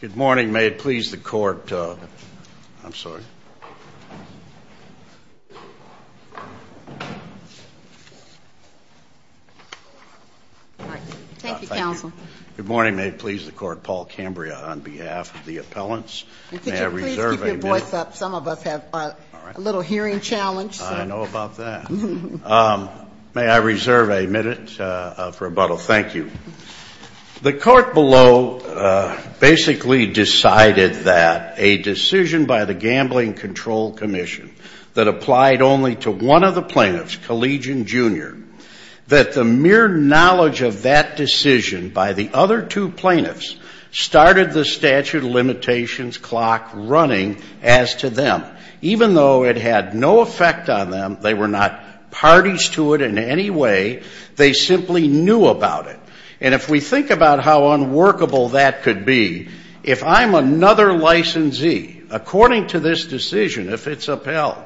Good morning. May it please the Court, Paul Cambria, on behalf of the appellants. May I reserve a minute for rebuttal? Thank you. The Court below basically decided that a decision by the Gambling Control Commission that applied only to one of the plaintiffs, Collegian Jr., that the mere knowledge of that decision by the other two plaintiffs started the statute of limitations clock running as to them. Even though it had no effect on them, they were not parties to it in any way, they simply knew about it. And if we think about how unworkable that could be, if I'm another licensee, according to this decision, if it's upheld,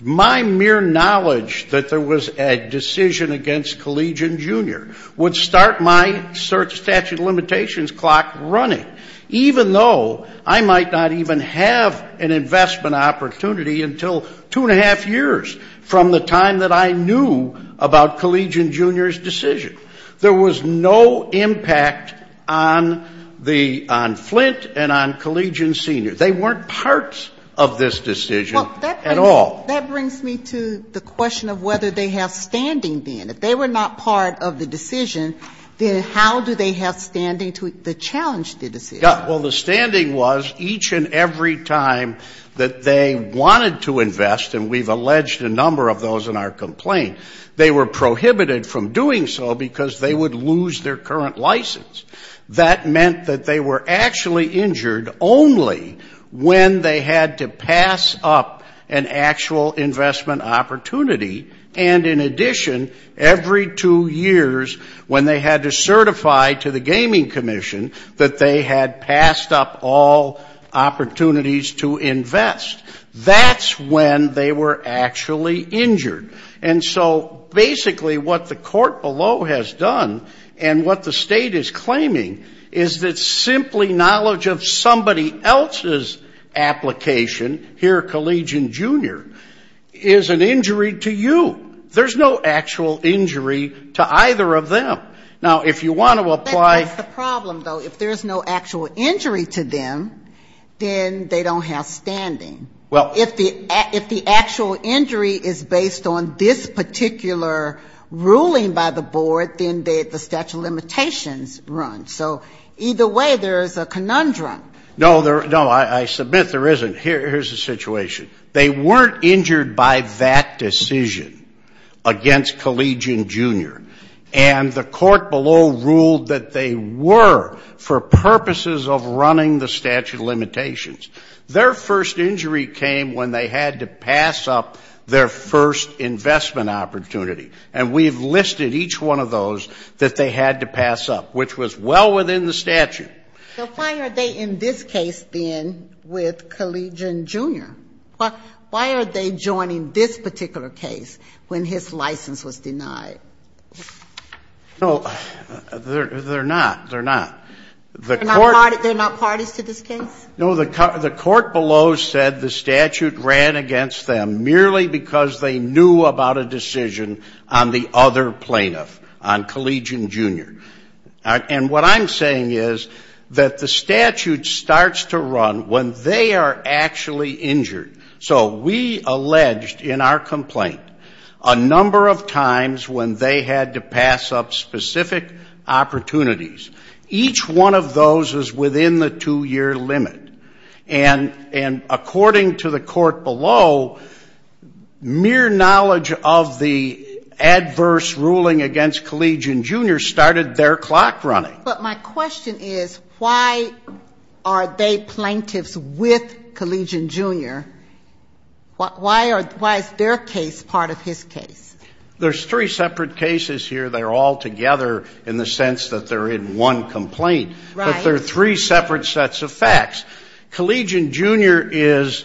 my mere knowledge that there was a decision against Collegian Jr. would start my statute of limitations clock running, even though I might not even have an investment opportunity until two and a half years from the time that I knew about Collegian Jr.'s decision. There was no impact on the — on Flynt and on Collegian Sr. They weren't parts of this decision at all. Well, that brings me to the question of whether they have standing then. If they were not part of the decision, then how do they have standing to challenge the decision? Yeah. Well, the standing was each and every time that they wanted to invest, and we've alleged a number of those in our complaint, they were prohibited from doing so because they would lose their current license. That meant that they were actually injured only when they had to pass up an actual investment opportunity, and in addition, every two years when they had to certify to the Gaming Commission that they had passed up all opportunities to invest. That's when they were actually injured. And so basically what the court below has done and what the State is claiming is that simply knowledge of somebody else's application, here Collegian Jr., is an injury to you. There's no actual injury to either of them. Now, if you want to apply — But that's the problem, though. If there's no actual injury to them, then they don't have standing. Well — If the actual injury is based on this particular ruling by the board, then the statute of limitations runs. So either way, there is a conundrum. No, there — no, I submit there isn't. Here's the situation. They weren't injured by that decision against Collegian Jr., and the court below ruled that they were for purposes of running the statute of limitations. Their first injury came when they had to pass up their first investment opportunity. And we've listed each one of those that they had to pass up, which was well within the statute. So why are they in this case, then, with Collegian Jr.? Why are they joining this particular case when his license was denied? No, they're not. They're not. They're not parties to this case? No, the court below said the statute ran against them merely because they knew about a decision on the other plaintiff, on Collegian Jr. And what I'm saying is that the statute starts to run when they are actually injured. So we alleged in our complaint a number of times when they had to pass up specific opportunities. Each one of those is within the two-year limit. And according to the court below, mere knowledge of the adverse ruling against Collegian Jr. started their clock running. But my question is, why are they plaintiffs with Collegian Jr.? Why is their case part of his case? There's three separate cases here. They're all together in the sense that they're in one complaint. Right. Well, there are three separate sets of facts. Collegian Jr. is,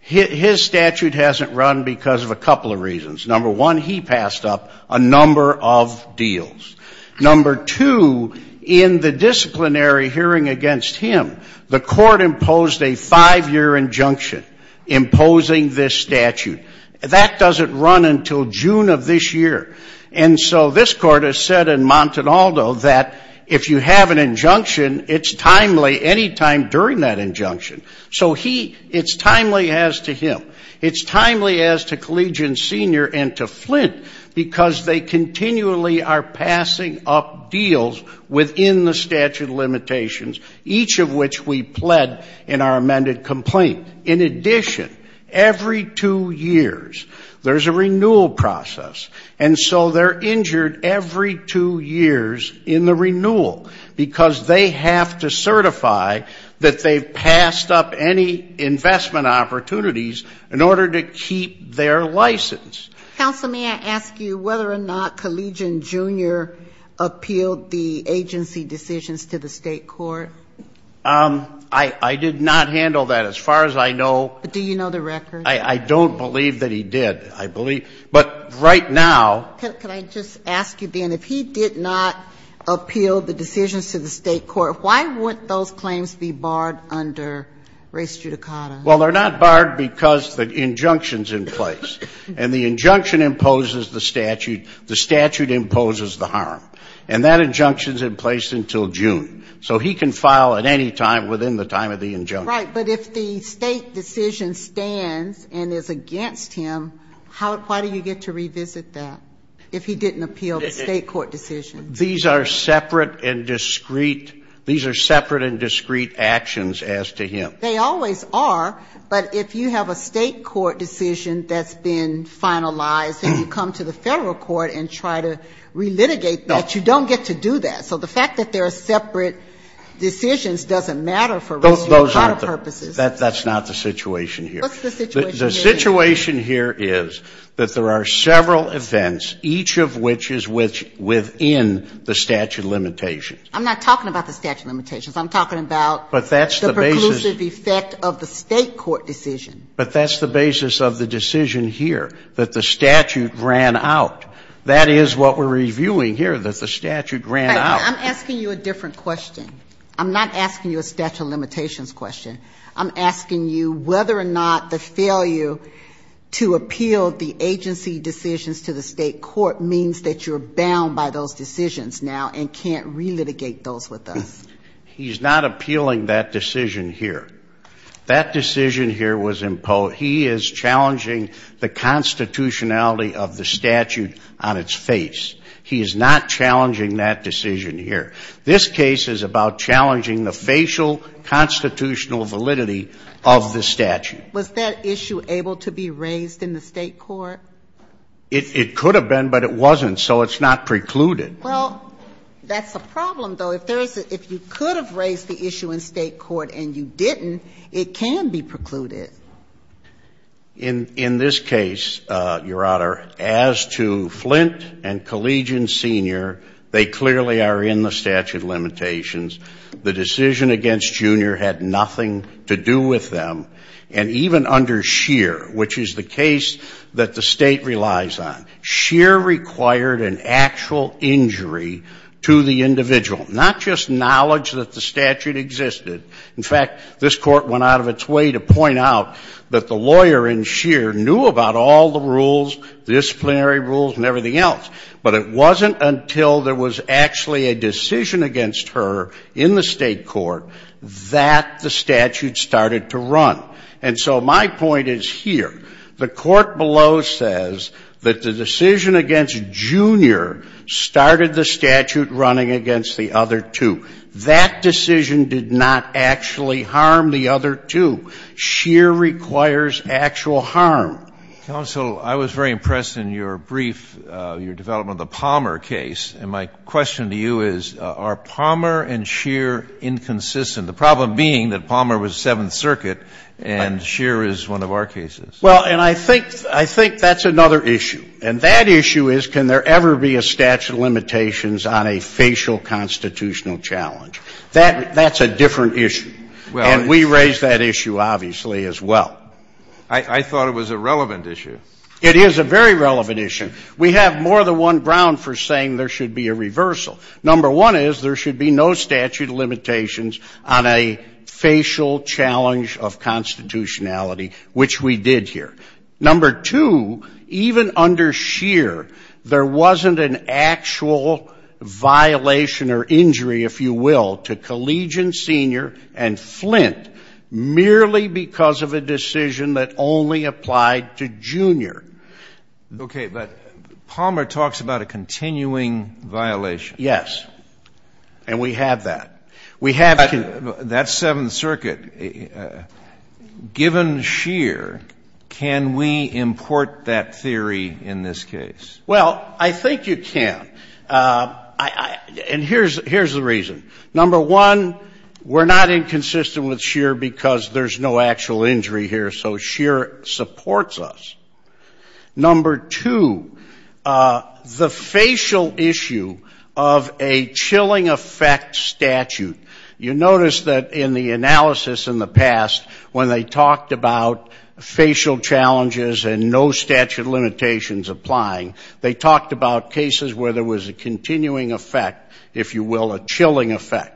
his statute hasn't run because of a couple of reasons. Number one, he passed up a number of deals. Number two, in the disciplinary hearing against him, the court imposed a five-year injunction imposing this statute. That doesn't run until June of this year. And so this court has said in Montinaldo that if you have an injunction, it's timely any time during that injunction. So he, it's timely as to him. It's timely as to Collegian Sr. and to Flint because they continually are passing up deals within the statute of limitations, each of which we pled in our amended complaint. And in addition, every two years there's a renewal process. And so they're injured every two years in the renewal because they have to certify that they've passed up any investment opportunities in order to keep their license. Counsel, may I ask you whether or not Collegian Jr. appealed the agency decisions to the state court? I did not handle that. As far as I know. Do you know the record? I don't believe that he did. I believe. But right now. Could I just ask you, then, if he did not appeal the decisions to the state court, why wouldn't those claims be barred under res judicata? Well, they're not barred because the injunction's in place. And the injunction imposes the statute. The statute imposes the harm. And that injunction's in place until June. So he can file at any time within the time of the injunction. Right. But if the State decision stands and is against him, how do you get to revisit that if he didn't appeal the State court decision? These are separate and discreet. These are separate and discreet actions as to him. They always are. But if you have a State court decision that's been finalized and you come to the Federal court and try to relitigate that, you don't get to do that. So the fact that there are separate decisions doesn't matter for res judicata purposes. That's not the situation here. What's the situation here? The situation here is that there are several events, each of which is within the statute of limitations. I'm not talking about the statute of limitations. I'm talking about the preclusive effect of the State court decision. But that's the basis of the decision here, that the statute ran out. That is what we're reviewing here, that the statute ran out. I'm asking you a different question. I'm not asking you a statute of limitations question. I'm asking you whether or not the failure to appeal the agency decisions to the State court means that you're bound by those decisions now and can't relitigate those with us. He's not appealing that decision here. That decision here was imposed. He is challenging the constitutionality of the statute on its face. He is not challenging that decision here. This case is about challenging the facial constitutional validity of the statute. Was that issue able to be raised in the State court? It could have been, but it wasn't, so it's not precluded. Well, that's the problem, though. If you could have raised the issue in State court and you didn't, it can be precluded. In this case, Your Honor, as to Flint and Collegian Sr., they clearly are in the statute of limitations. The decision against Junior had nothing to do with them. And even under Scheer, which is the case that the State relies on, Scheer required an actual injury to the individual, not just knowledge that the statute existed. In fact, this Court went out of its way to point out that the lawyer in Scheer knew about all the rules, disciplinary rules and everything else, but it wasn't until there was actually a decision against her in the State court that the statute started to run. And so my point is here. The court below says that the decision against Junior started the statute running against the other two. That decision did not actually harm the other two. Scheer requires actual harm. Counsel, I was very impressed in your brief, your development of the Palmer case, and my question to you is, are Palmer and Scheer inconsistent? The problem being that Palmer was Seventh Circuit and Scheer is one of our cases. Well, and I think that's another issue. And that issue is, can there ever be a statute of limitations on a facial constitutional challenge? That's a different issue. And we raised that issue, obviously, as well. I thought it was a relevant issue. It is a very relevant issue. We have more than one ground for saying there should be a reversal. Number one is there should be no statute of limitations on a facial challenge of constitutionality, which we did here. Number two, even under Scheer, there wasn't an actual violation or injury, if you will, to Collegian Senior and Flint merely because of a decision that only applied to Junior. Okay. But Palmer talks about a continuing violation. Yes. And we have that. We have to But that's Seventh Circuit. Given Scheer, can we import that theory in this case? Well, I think you can. And here's the reason. Number one, we're not inconsistent with Scheer because there's no actual injury here, so Scheer supports us. Number two, the facial issue of a chilling effect statute. You notice that in the analysis in the past, when they talked about facial challenges and no statute of limitations applying, they talked about cases where there was a continuing effect, if you will, a chilling effect.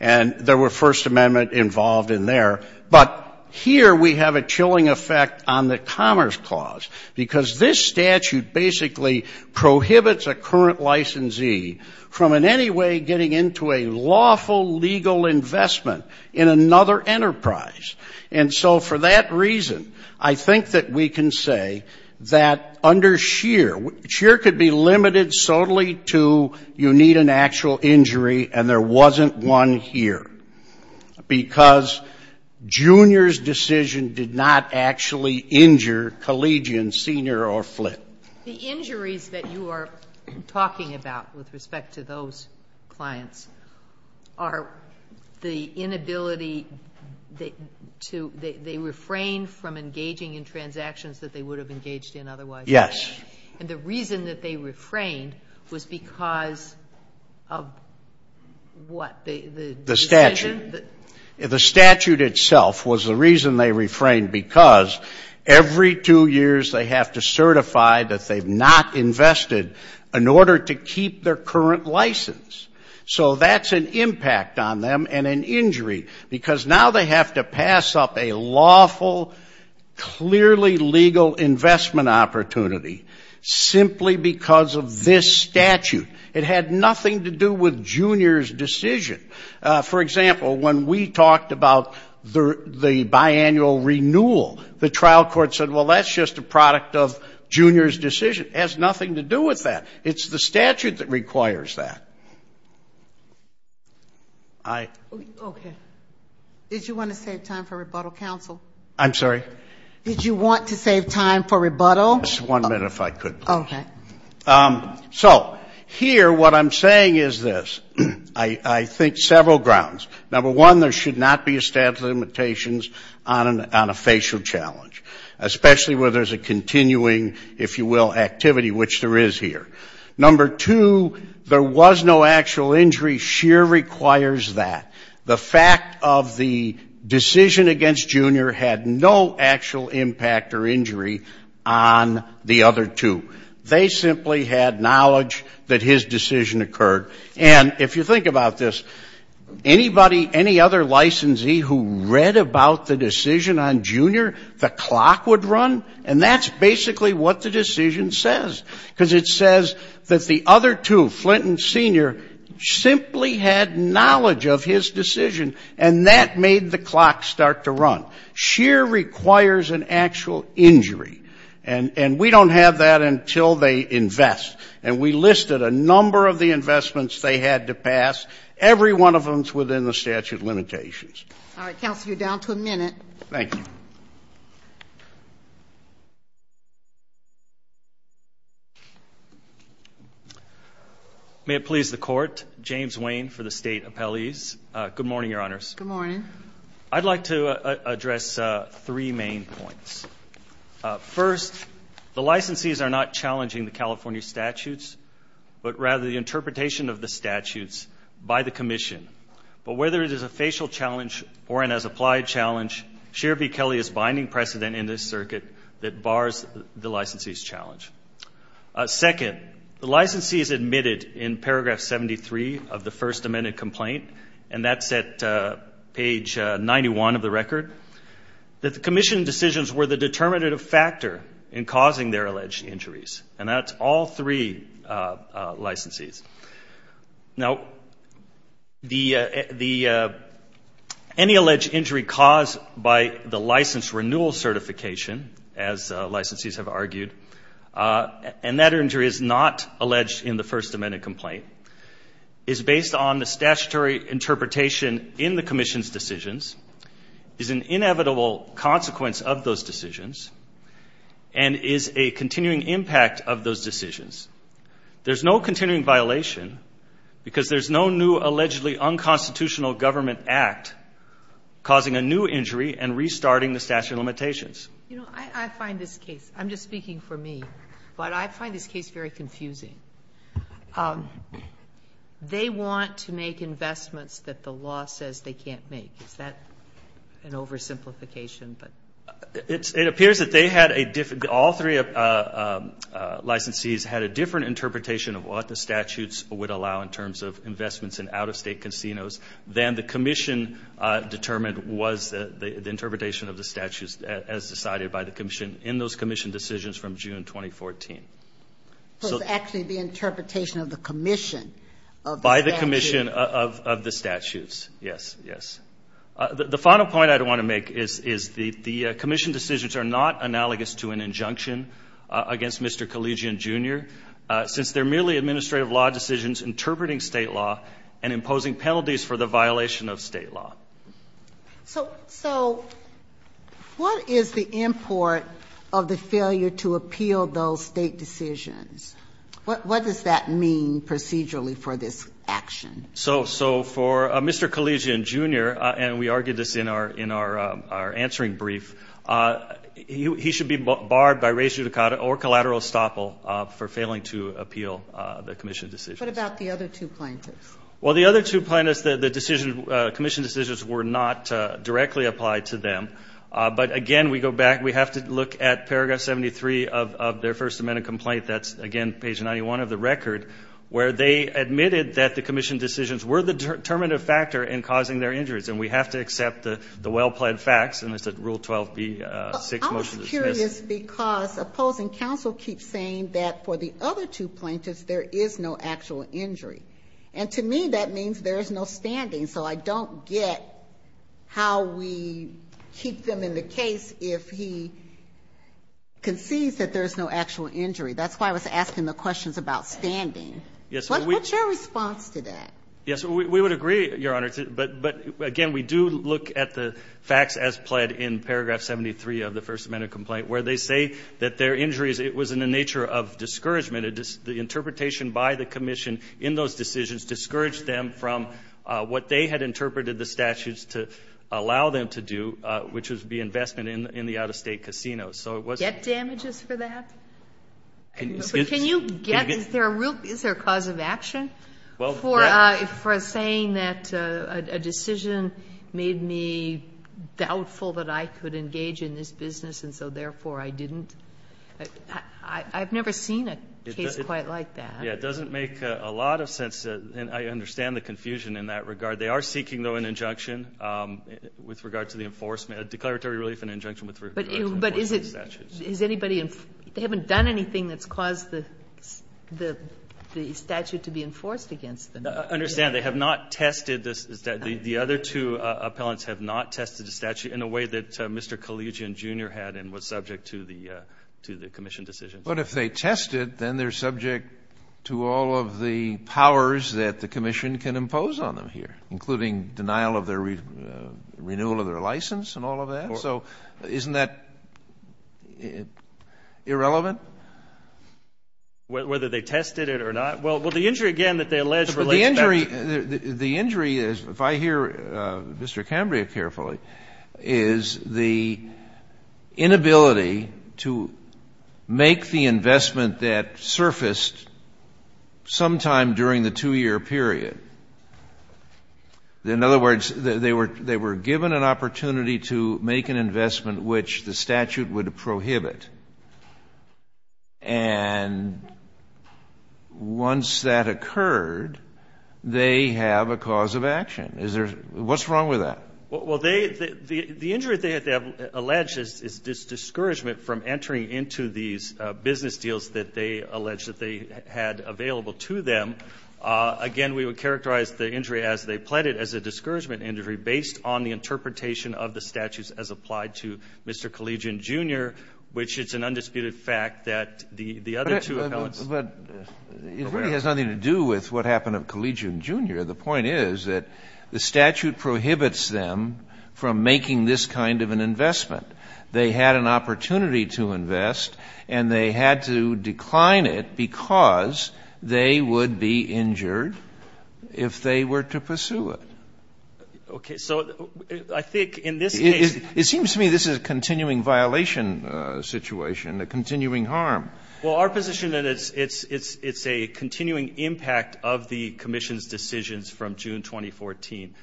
And there were First Amendment involved in there. But here we have a chilling effect on the Commerce Clause, because this statute basically prohibits a current licensee from in any way getting into a lawful legal investment in another enterprise. And so for that reason, I think that we can say that under Scheer, Scheer could be limited solely to you need an actual injury and there wasn't one here, because Junior's decision did not actually injure Collegian Senior or Flint. The injuries that you are talking about with respect to those clients are the injuries and the inability to, they refrained from engaging in transactions that they would have engaged in otherwise. Yes. And the reason that they refrained was because of what? The statute. The statute itself was the reason they refrained, because every two years they have to certify that they've not invested in order to keep their current license. So that's an impact on them and an injury, because now they have to pass up a lawful, clearly legal investment opportunity simply because of this statute. It had nothing to do with Junior's decision. For example, when we talked about the biannual renewal, the trial court said, well, that's just a product of Junior's decision. It has nothing to do with that. It's the statute that requires that. Okay. Did you want to save time for rebuttal, counsel? I'm sorry? Did you want to save time for rebuttal? Okay. So here what I'm saying is this. I think several grounds. Number one, there should not be a statute of limitations on a facial challenge, especially where there's a continuing, if you will, activity, which there is here. Number two, there was no actual injury. Scheer requires that. The fact of the decision against Junior had no actual impact or injury on the other two. They simply had knowledge that his decision occurred. And if you think about this, anybody, any other licensee who read about the decision on Junior, the clock would run, and that's basically what the decision says, because it says that the other two, Flint and Senior, simply had knowledge of his decision, and that made the clock start to run. Scheer requires an actual injury. And we don't have that until they invest. And we listed a number of the investments they had to pass. Every one of them is within the statute of limitations. All right. Counsel, you're down to a minute. May it please the Court. James Wayne for the State Appellees. Good morning, Your Honors. I'd like to address three main points. First, the licensees are not challenging the California statutes, but rather the interpretation of the statutes by the Commission. But whether it is a facial challenge or an as-applied challenge, Scheer v. Kelly is binding precedent in this circuit that bars the licensee's challenge. Second, the licensee is admitted in paragraph 73 of the First Amendment complaint, and that's at paragraph page 91 of the record, that the Commission decisions were the determinative factor in causing their alleged injuries. And that's all three licensees. Now, any alleged injury caused by the license renewal certification, as licensees have argued, and that injury is not alleged in the First Amendment complaint, is based on the statutory interpretation in the Commission's decisions, is an inevitable consequence of those decisions, and is a continuing impact of those decisions. There's no continuing violation, because there's no new allegedly unconstitutional government act causing a new injury and restarting the statute of limitations. You know, I find this case, I'm just speaking for me, but I find this case very confusing. They want to make investments that the law says they can't make. Is that an oversimplification? It appears that all three licensees had a different interpretation of what the statutes would allow in terms of investments in out-of-state casinos than the Commission determined was the interpretation of the statutes as decided by the Commission in those Commission decisions from June 2014. So it's actually the interpretation of the Commission of the statutes? By the Commission of the statutes, yes, yes. The final point I want to make is the Commission decisions are not analogous to an injunction against Mr. Collegian, Jr., since they're merely administrative law decisions interpreting state law and imposing penalties for the violation of state law. So what is the import of the failure to appeal those state decisions? What does that mean procedurally for this action? So for Mr. Collegian, Jr., and we argued this in our answering brief, he should be barred by res judicata or collateral estoppel for failing to appeal the Commission decisions. What about the other two plaintiffs? Well, the other two plaintiffs, the decision, Commission decisions were not directly applied to them. But again, we go back, we have to look at paragraph 73 of their First Amendment complaint, that's, again, page 91 of the record, where they admitted that the Commission decisions were the determinative factor in causing their injuries. And we have to accept the well-planned facts, and it's at rule 12B, six, motion to dismiss. I was curious, because opposing counsel keeps saying that for the other two plaintiffs there is no actual injury. And to me, that means there is no standing. So I don't get how we keep them in the case if he concedes that there is no actual injury. That's why I was asking the questions about standing. What's your response to that? Yes, we would agree, Your Honor, but again, we do look at the facts as pled in paragraph 73 of the First Amendment complaint, where they say that their injuries, it was in the nature of discouragement. The interpretation by the Commission in those decisions discouraged them from what they had interpreted the statutes to allow them to do, which would be investment in the out-of-state casinos. Get damages for that? Can you get, is there a cause of action for saying that a decision made me doubtful that I could engage in this business, and so therefore I didn't? I've never seen a case quite like that. Yes, it doesn't make a lot of sense, and I understand the confusion in that regard. They are seeking, though, an injunction with regard to the enforcement, a declaratory relief and an injunction with regard to the enforcement of the statutes. But is it, is anybody, they haven't done anything that's caused the statute to be enforced against them. I understand. They have not tested, the other two appellants have not tested the statute in a way that Mr. Collegian, Jr. had and was subject to the Commission decisions. But if they tested, then they're subject to all of the powers that the Commission can impose on them here, including denial of their renewal of their license and all of that. So isn't that irrelevant? Whether they tested it or not? Well, the injury, again, that they allege relates to that. The injury is, if I hear Mr. Cambria carefully, is the inability to make the investment that surfaced sometime during the two-year period. In other words, they were given an opportunity to make an investment which the statute would prohibit. And once that occurred, they have a cause of action. Is there, what's wrong with that? Well, they, the injury that they allege is discouragement from entering into these business deals that they allege that they had available to them. Again, we would characterize the injury as they pled it as a discouragement injury based on the interpretation of the statutes as applied to Mr. Collegian, Jr., which it's an undisputed fact that the other two appellants were aware of. But it really has nothing to do with what happened to Collegian, Jr. The point is that the statute prohibits them from making this kind of an investment. They had an opportunity to invest, and they had to decline it because they would be injured if they were to pursue it. Okay. So I think in this case ---- It seems to me this is a continuing violation situation, a continuing harm. Well, our position is it's a continuing impact of the commission's decisions from June 2014.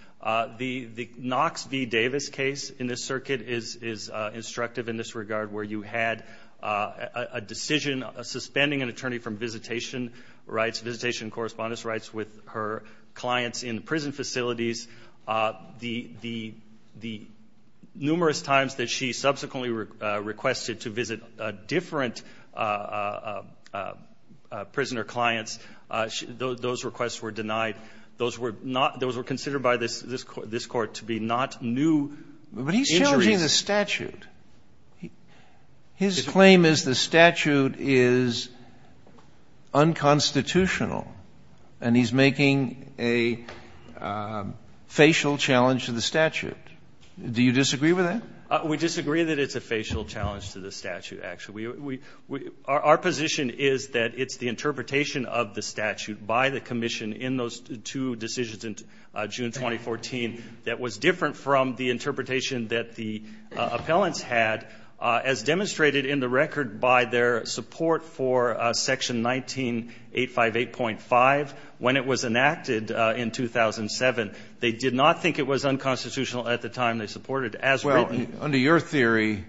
The Knox v. Davis case in this circuit is instructive in this regard where you had a decision suspending an attorney from visitation rights, visitation correspondence rights with her clients in prison facilities. The numerous times that she subsequently requested to visit different prisoner clients, those requests were denied. Those were not ---- those were considered by this Court to be not new injuries. But he's challenging the statute. His claim is the statute is unconstitutional. And he's making a facial challenge to the statute. Do you disagree with that? We disagree that it's a facial challenge to the statute, actually. Our position is that it's the interpretation of the statute by the commission in those two decisions in June 2014 that was different from the interpretation that the appellants had as demonstrated in the record by their support for Section 19858.5 when it was enacted in 2007. They did not think it was unconstitutional at the time they supported it as written. Well, under your theory,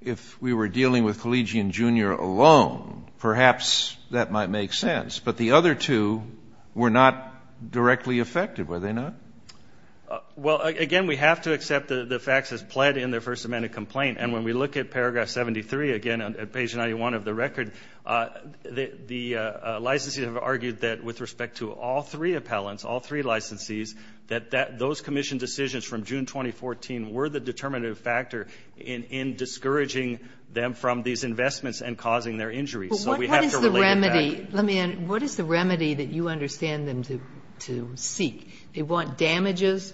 if we were dealing with Collegian, Jr. alone, perhaps that might make sense. But the other two were not directly affected, were they not? Well, again, we have to accept the facts as pled in the First Amendment complaint. And when we look at Paragraph 73, again, at page 91 of the record, the licensees have argued that with respect to all three appellants, all three licensees, that those commission decisions from June 2014 were the determinative factor in discouraging them from these investments and causing their injuries. So we have to relate it back. But what is the remedy? Let me end. What is the remedy that you understand them to seek? They want damages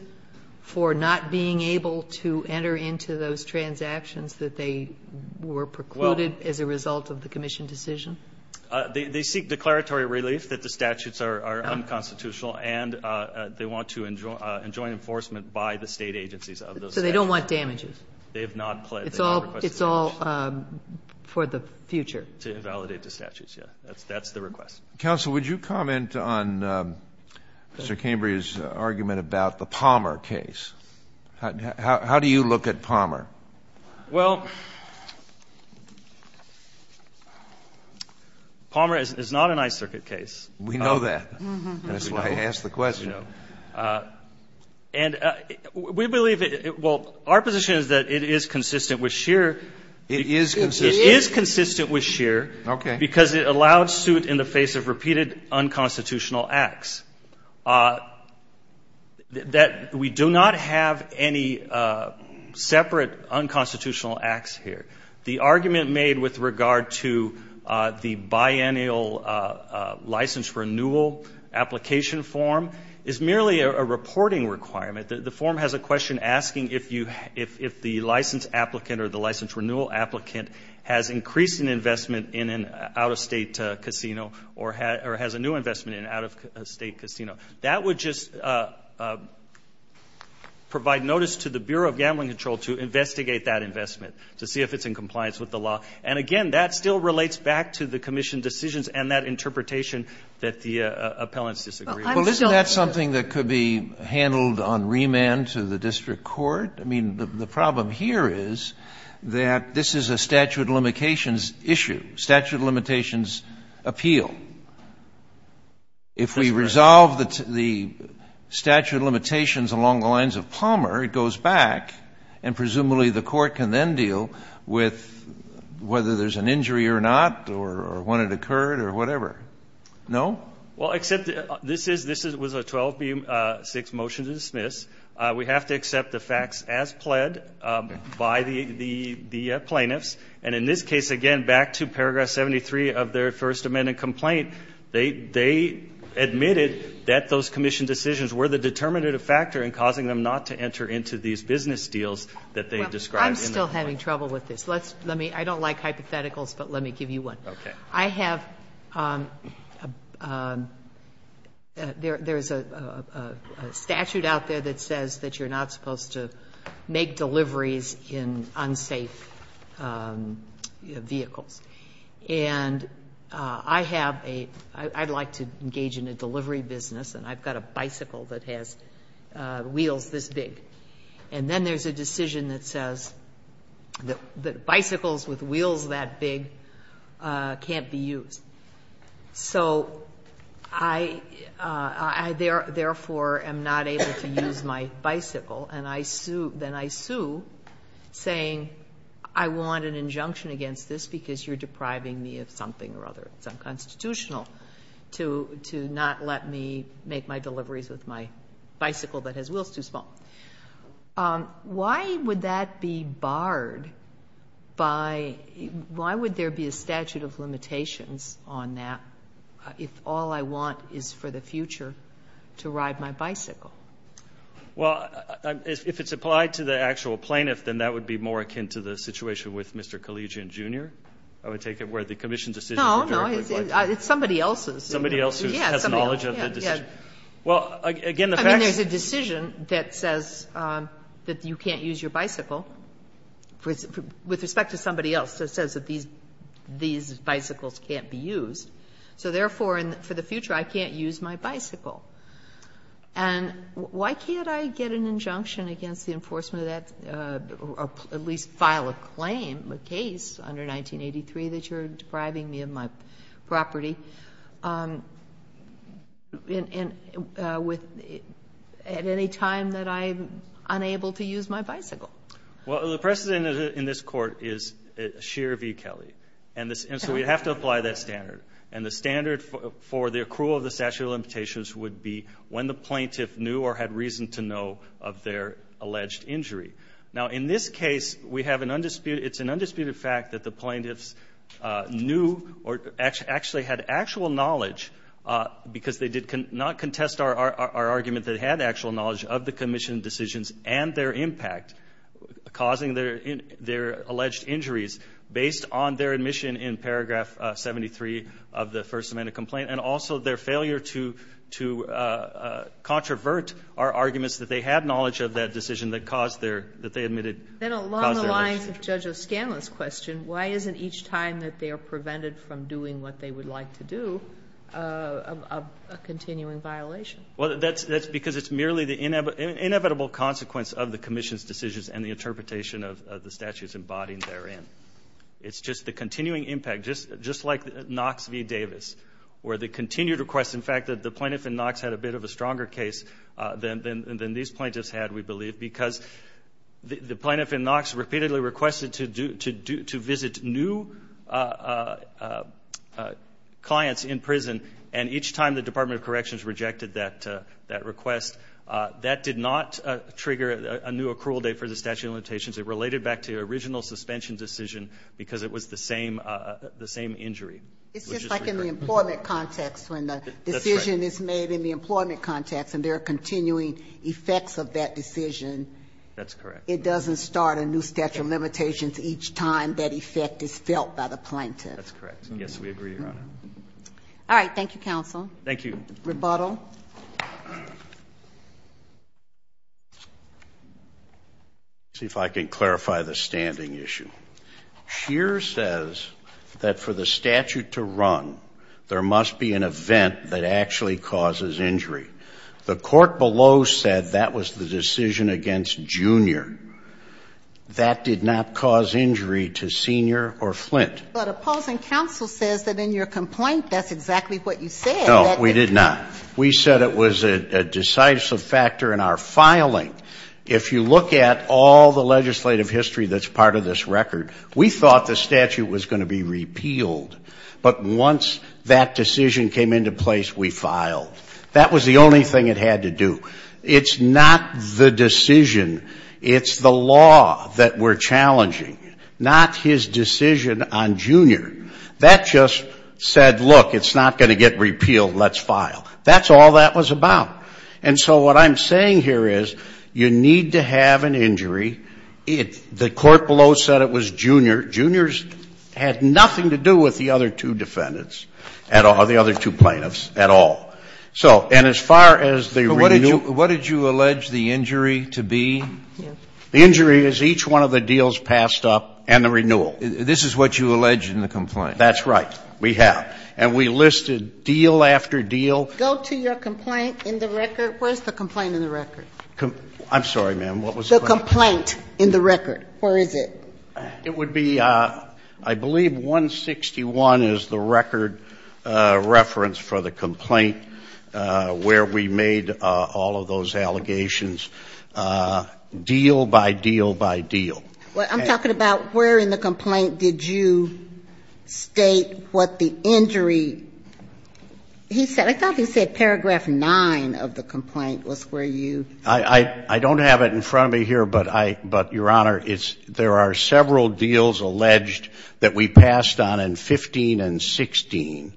for not being able to enter into those transactions that they were precluded as a result of the commission decision? They seek declaratory relief that the statutes are unconstitutional, and they want to enjoin enforcement by the State agencies of those statutes. So they don't want damages? They have not pled. It's all for the future. To invalidate the statutes, yes. That's the request. Counsel, would you comment on Mr. Cambry's argument about the Palmer case? How do you look at Palmer? Well, Palmer is not an I-Circuit case. We know that. That's why I asked the question. And we believe it – well, our position is that it is consistent with Scheer. It is consistent? It is consistent with Scheer. Okay. Because it allowed suit in the face of repeated unconstitutional acts. We do not have any separate unconstitutional acts here. The argument made with regard to the biennial license renewal application form is merely a reporting requirement. The form has a question asking if the license applicant or the license renewal applicant has increased an investment in an out-of-state casino or has a new investment in an out-of-state casino. That would just provide notice to the Bureau of Gambling Control to investigate that investment to see if it's in compliance with the law. And, again, that still relates back to the Commission decisions and that interpretation that the appellants disagree. Well, isn't that something that could be handled on remand to the district court? I mean, the problem here is that this is a statute of limitations issue, statute of limitations appeal. If we resolve the statute of limitations along the lines of Palmer, it goes back and presumably the court can then deal with whether there's an injury or not or when it occurred or whatever. No? Well, except this was a 12B6 motion to dismiss. We have to accept the facts as pled by the plaintiffs. And in this case, again, back to Paragraph 73 of their First Amendment complaint, they admitted that those Commission decisions were the determinative factor in causing them not to enter into these business deals that they described. I'm still having trouble with this. I don't like hypotheticals, but let me give you one. Okay. I have – there's a statute out there that says that you're not supposed to make deliveries in unsafe vehicles. And I have a – I'd like to engage in a delivery business and I've got a bicycle that has wheels this big. And then there's a decision that says that bicycles with wheels that big can't be used. So I therefore am not able to use my bicycle. And I sue – then I sue saying I want an injunction against this because you're depriving me of something or other. It's unconstitutional to not let me make my deliveries with my bicycle that has wheels too small. Why would that be barred by – why would there be a statute of limitations on that if all I want is for the future to ride my bicycle? Well, if it's applied to the actual plaintiff, then that would be more akin to the situation with Mr. Collegian, Jr., I would take it, where the Commission decision is very quickly – No, no. It's somebody else's. Somebody else who has knowledge of the decision. Well, again, the fact – And then there's a decision that says that you can't use your bicycle with respect to somebody else that says that these bicycles can't be used. So therefore, for the future, I can't use my bicycle. And why can't I get an injunction against the enforcement of that or at least file a claim, a case, under 1983 that you're depriving me of my property at any time that I'm unable to use my bicycle? Well, the precedent in this Court is sheer v. Kelly. And so we have to apply that standard. And the standard for the accrual of the statute of limitations would be when the plaintiff knew or had reason to know of their alleged injury. Now, in this case, we have an undisputed – it's an undisputed fact that the plaintiffs knew or actually had actual knowledge because they did not contest our argument that they had actual knowledge of the commission decisions and their impact causing their alleged injuries based on their admission in paragraph 73 of the First Amendment complaint and also their failure to controvert our arguments that they had knowledge of that decision that caused their – that they admitted caused their injury. Then along the lines of Judge O'Scanlan's question, why isn't each time that they are prevented from doing what they would like to do a continuing violation? Well, that's because it's merely the inevitable consequence of the commission's decisions and the interpretation of the statutes embodied therein. It's just the continuing impact, just like Knox v. Davis, where the continued request – in fact, the plaintiff in Knox had a bit of a stronger case than these plaintiffs had, we believe, because the plaintiff in Knox repeatedly requested to visit new clients in prison and each time the Department of Corrections rejected that request, that did not trigger a new accrual date for the statute of limitations. It related back to the original suspension decision because it was the same injury. It's just like in the employment context when the decision is made in the employment context and there are continuing effects of that decision. That's correct. It doesn't start a new statute of limitations each time that effect is felt by the plaintiff. That's correct. Yes, we agree, Your Honor. All right. Thank you, counsel. Thank you. Rebuttal. Let's see if I can clarify the standing issue. Scheer says that for the statute to run, there must be an event that actually causes injury. The court below said that was the decision against Junior. That did not cause injury to Senior or Flint. But opposing counsel says that in your complaint that's exactly what you said. No, we did not. We said it was a decisive factor in our filing. If you look at all the legislative history that's part of this record, we thought the statute was going to be repealed. But once that decision came into place, we filed. That was the only thing it had to do. It's not the decision. It's the law that we're challenging. Not his decision on Junior. That just said, look, it's not going to get repealed. Let's file. That's all that was about. And so what I'm saying here is you need to have an injury. The court below said it was Junior. Junior had nothing to do with the other two defendants or the other two plaintiffs at all. So, and as far as the renewal. What did you allege the injury to be? The injury is each one of the deals passed up and the renewal. This is what you allege in the complaint. That's right. We have. And we listed deal after deal. Go to your complaint in the record. Where's the complaint in the record? I'm sorry, ma'am. The complaint in the record. Where is it? It would be, I believe, 161 is the record reference for the complaint where we made all of those allegations. Deal by deal by deal. I'm talking about where in the complaint did you state what the injury. He said, I thought he said paragraph 9 of the complaint was where you. I don't have it in front of me here. But your honor, there are several deals alleged that we passed on in 15 and 16.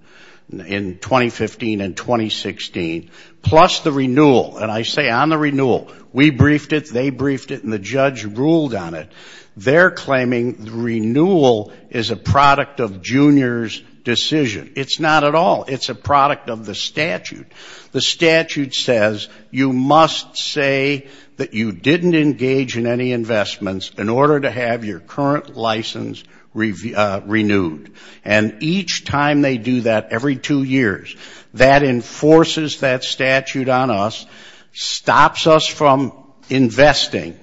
In 2015 and 2016. Plus the renewal. And I say on the renewal. We briefed it. They briefed it. And the judge ruled on it. They're claiming the renewal is a product of Junior's decision. It's not at all. It's a product of the statute. The statute says you must say that you didn't engage in any investments in order to have your current license renewed. And each time they do that every two years, that enforces that statute on us. Stops us from investing.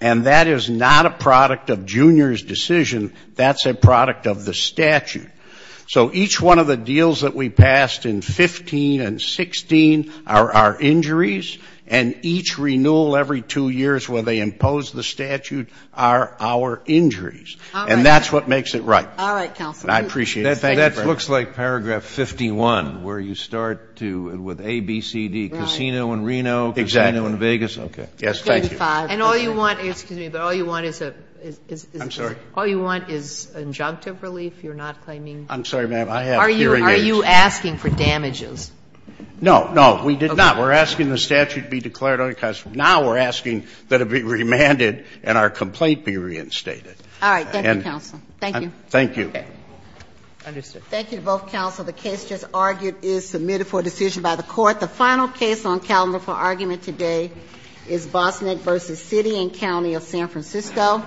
And that is not a product of Junior's decision. That's a product of the statute. So each one of the deals that we passed in 15 and 16 are our injuries. And each renewal every two years where they impose the statute are our injuries. And that's what makes it right. All right, counsel. I appreciate it. That looks like paragraph 51 where you start with A, B, C, D. Casino in Reno. Casino in Vegas. Okay. Yes, thank you. And all you want, excuse me, but all you want is an injunctive relief. I'm sorry, ma'am. I have hearing aids. Are you asking for damages? No, no. We did not. We're asking the statute be declared unconstitutional. Now we're asking that it be remanded and our complaint be reinstated. All right. Thank you, counsel. Thank you. Thank you. Thank you to both counsel. The case just argued is submitted for decision by the court. The final case on calendar for argument today is Bosnick v. City and County of San Francisco.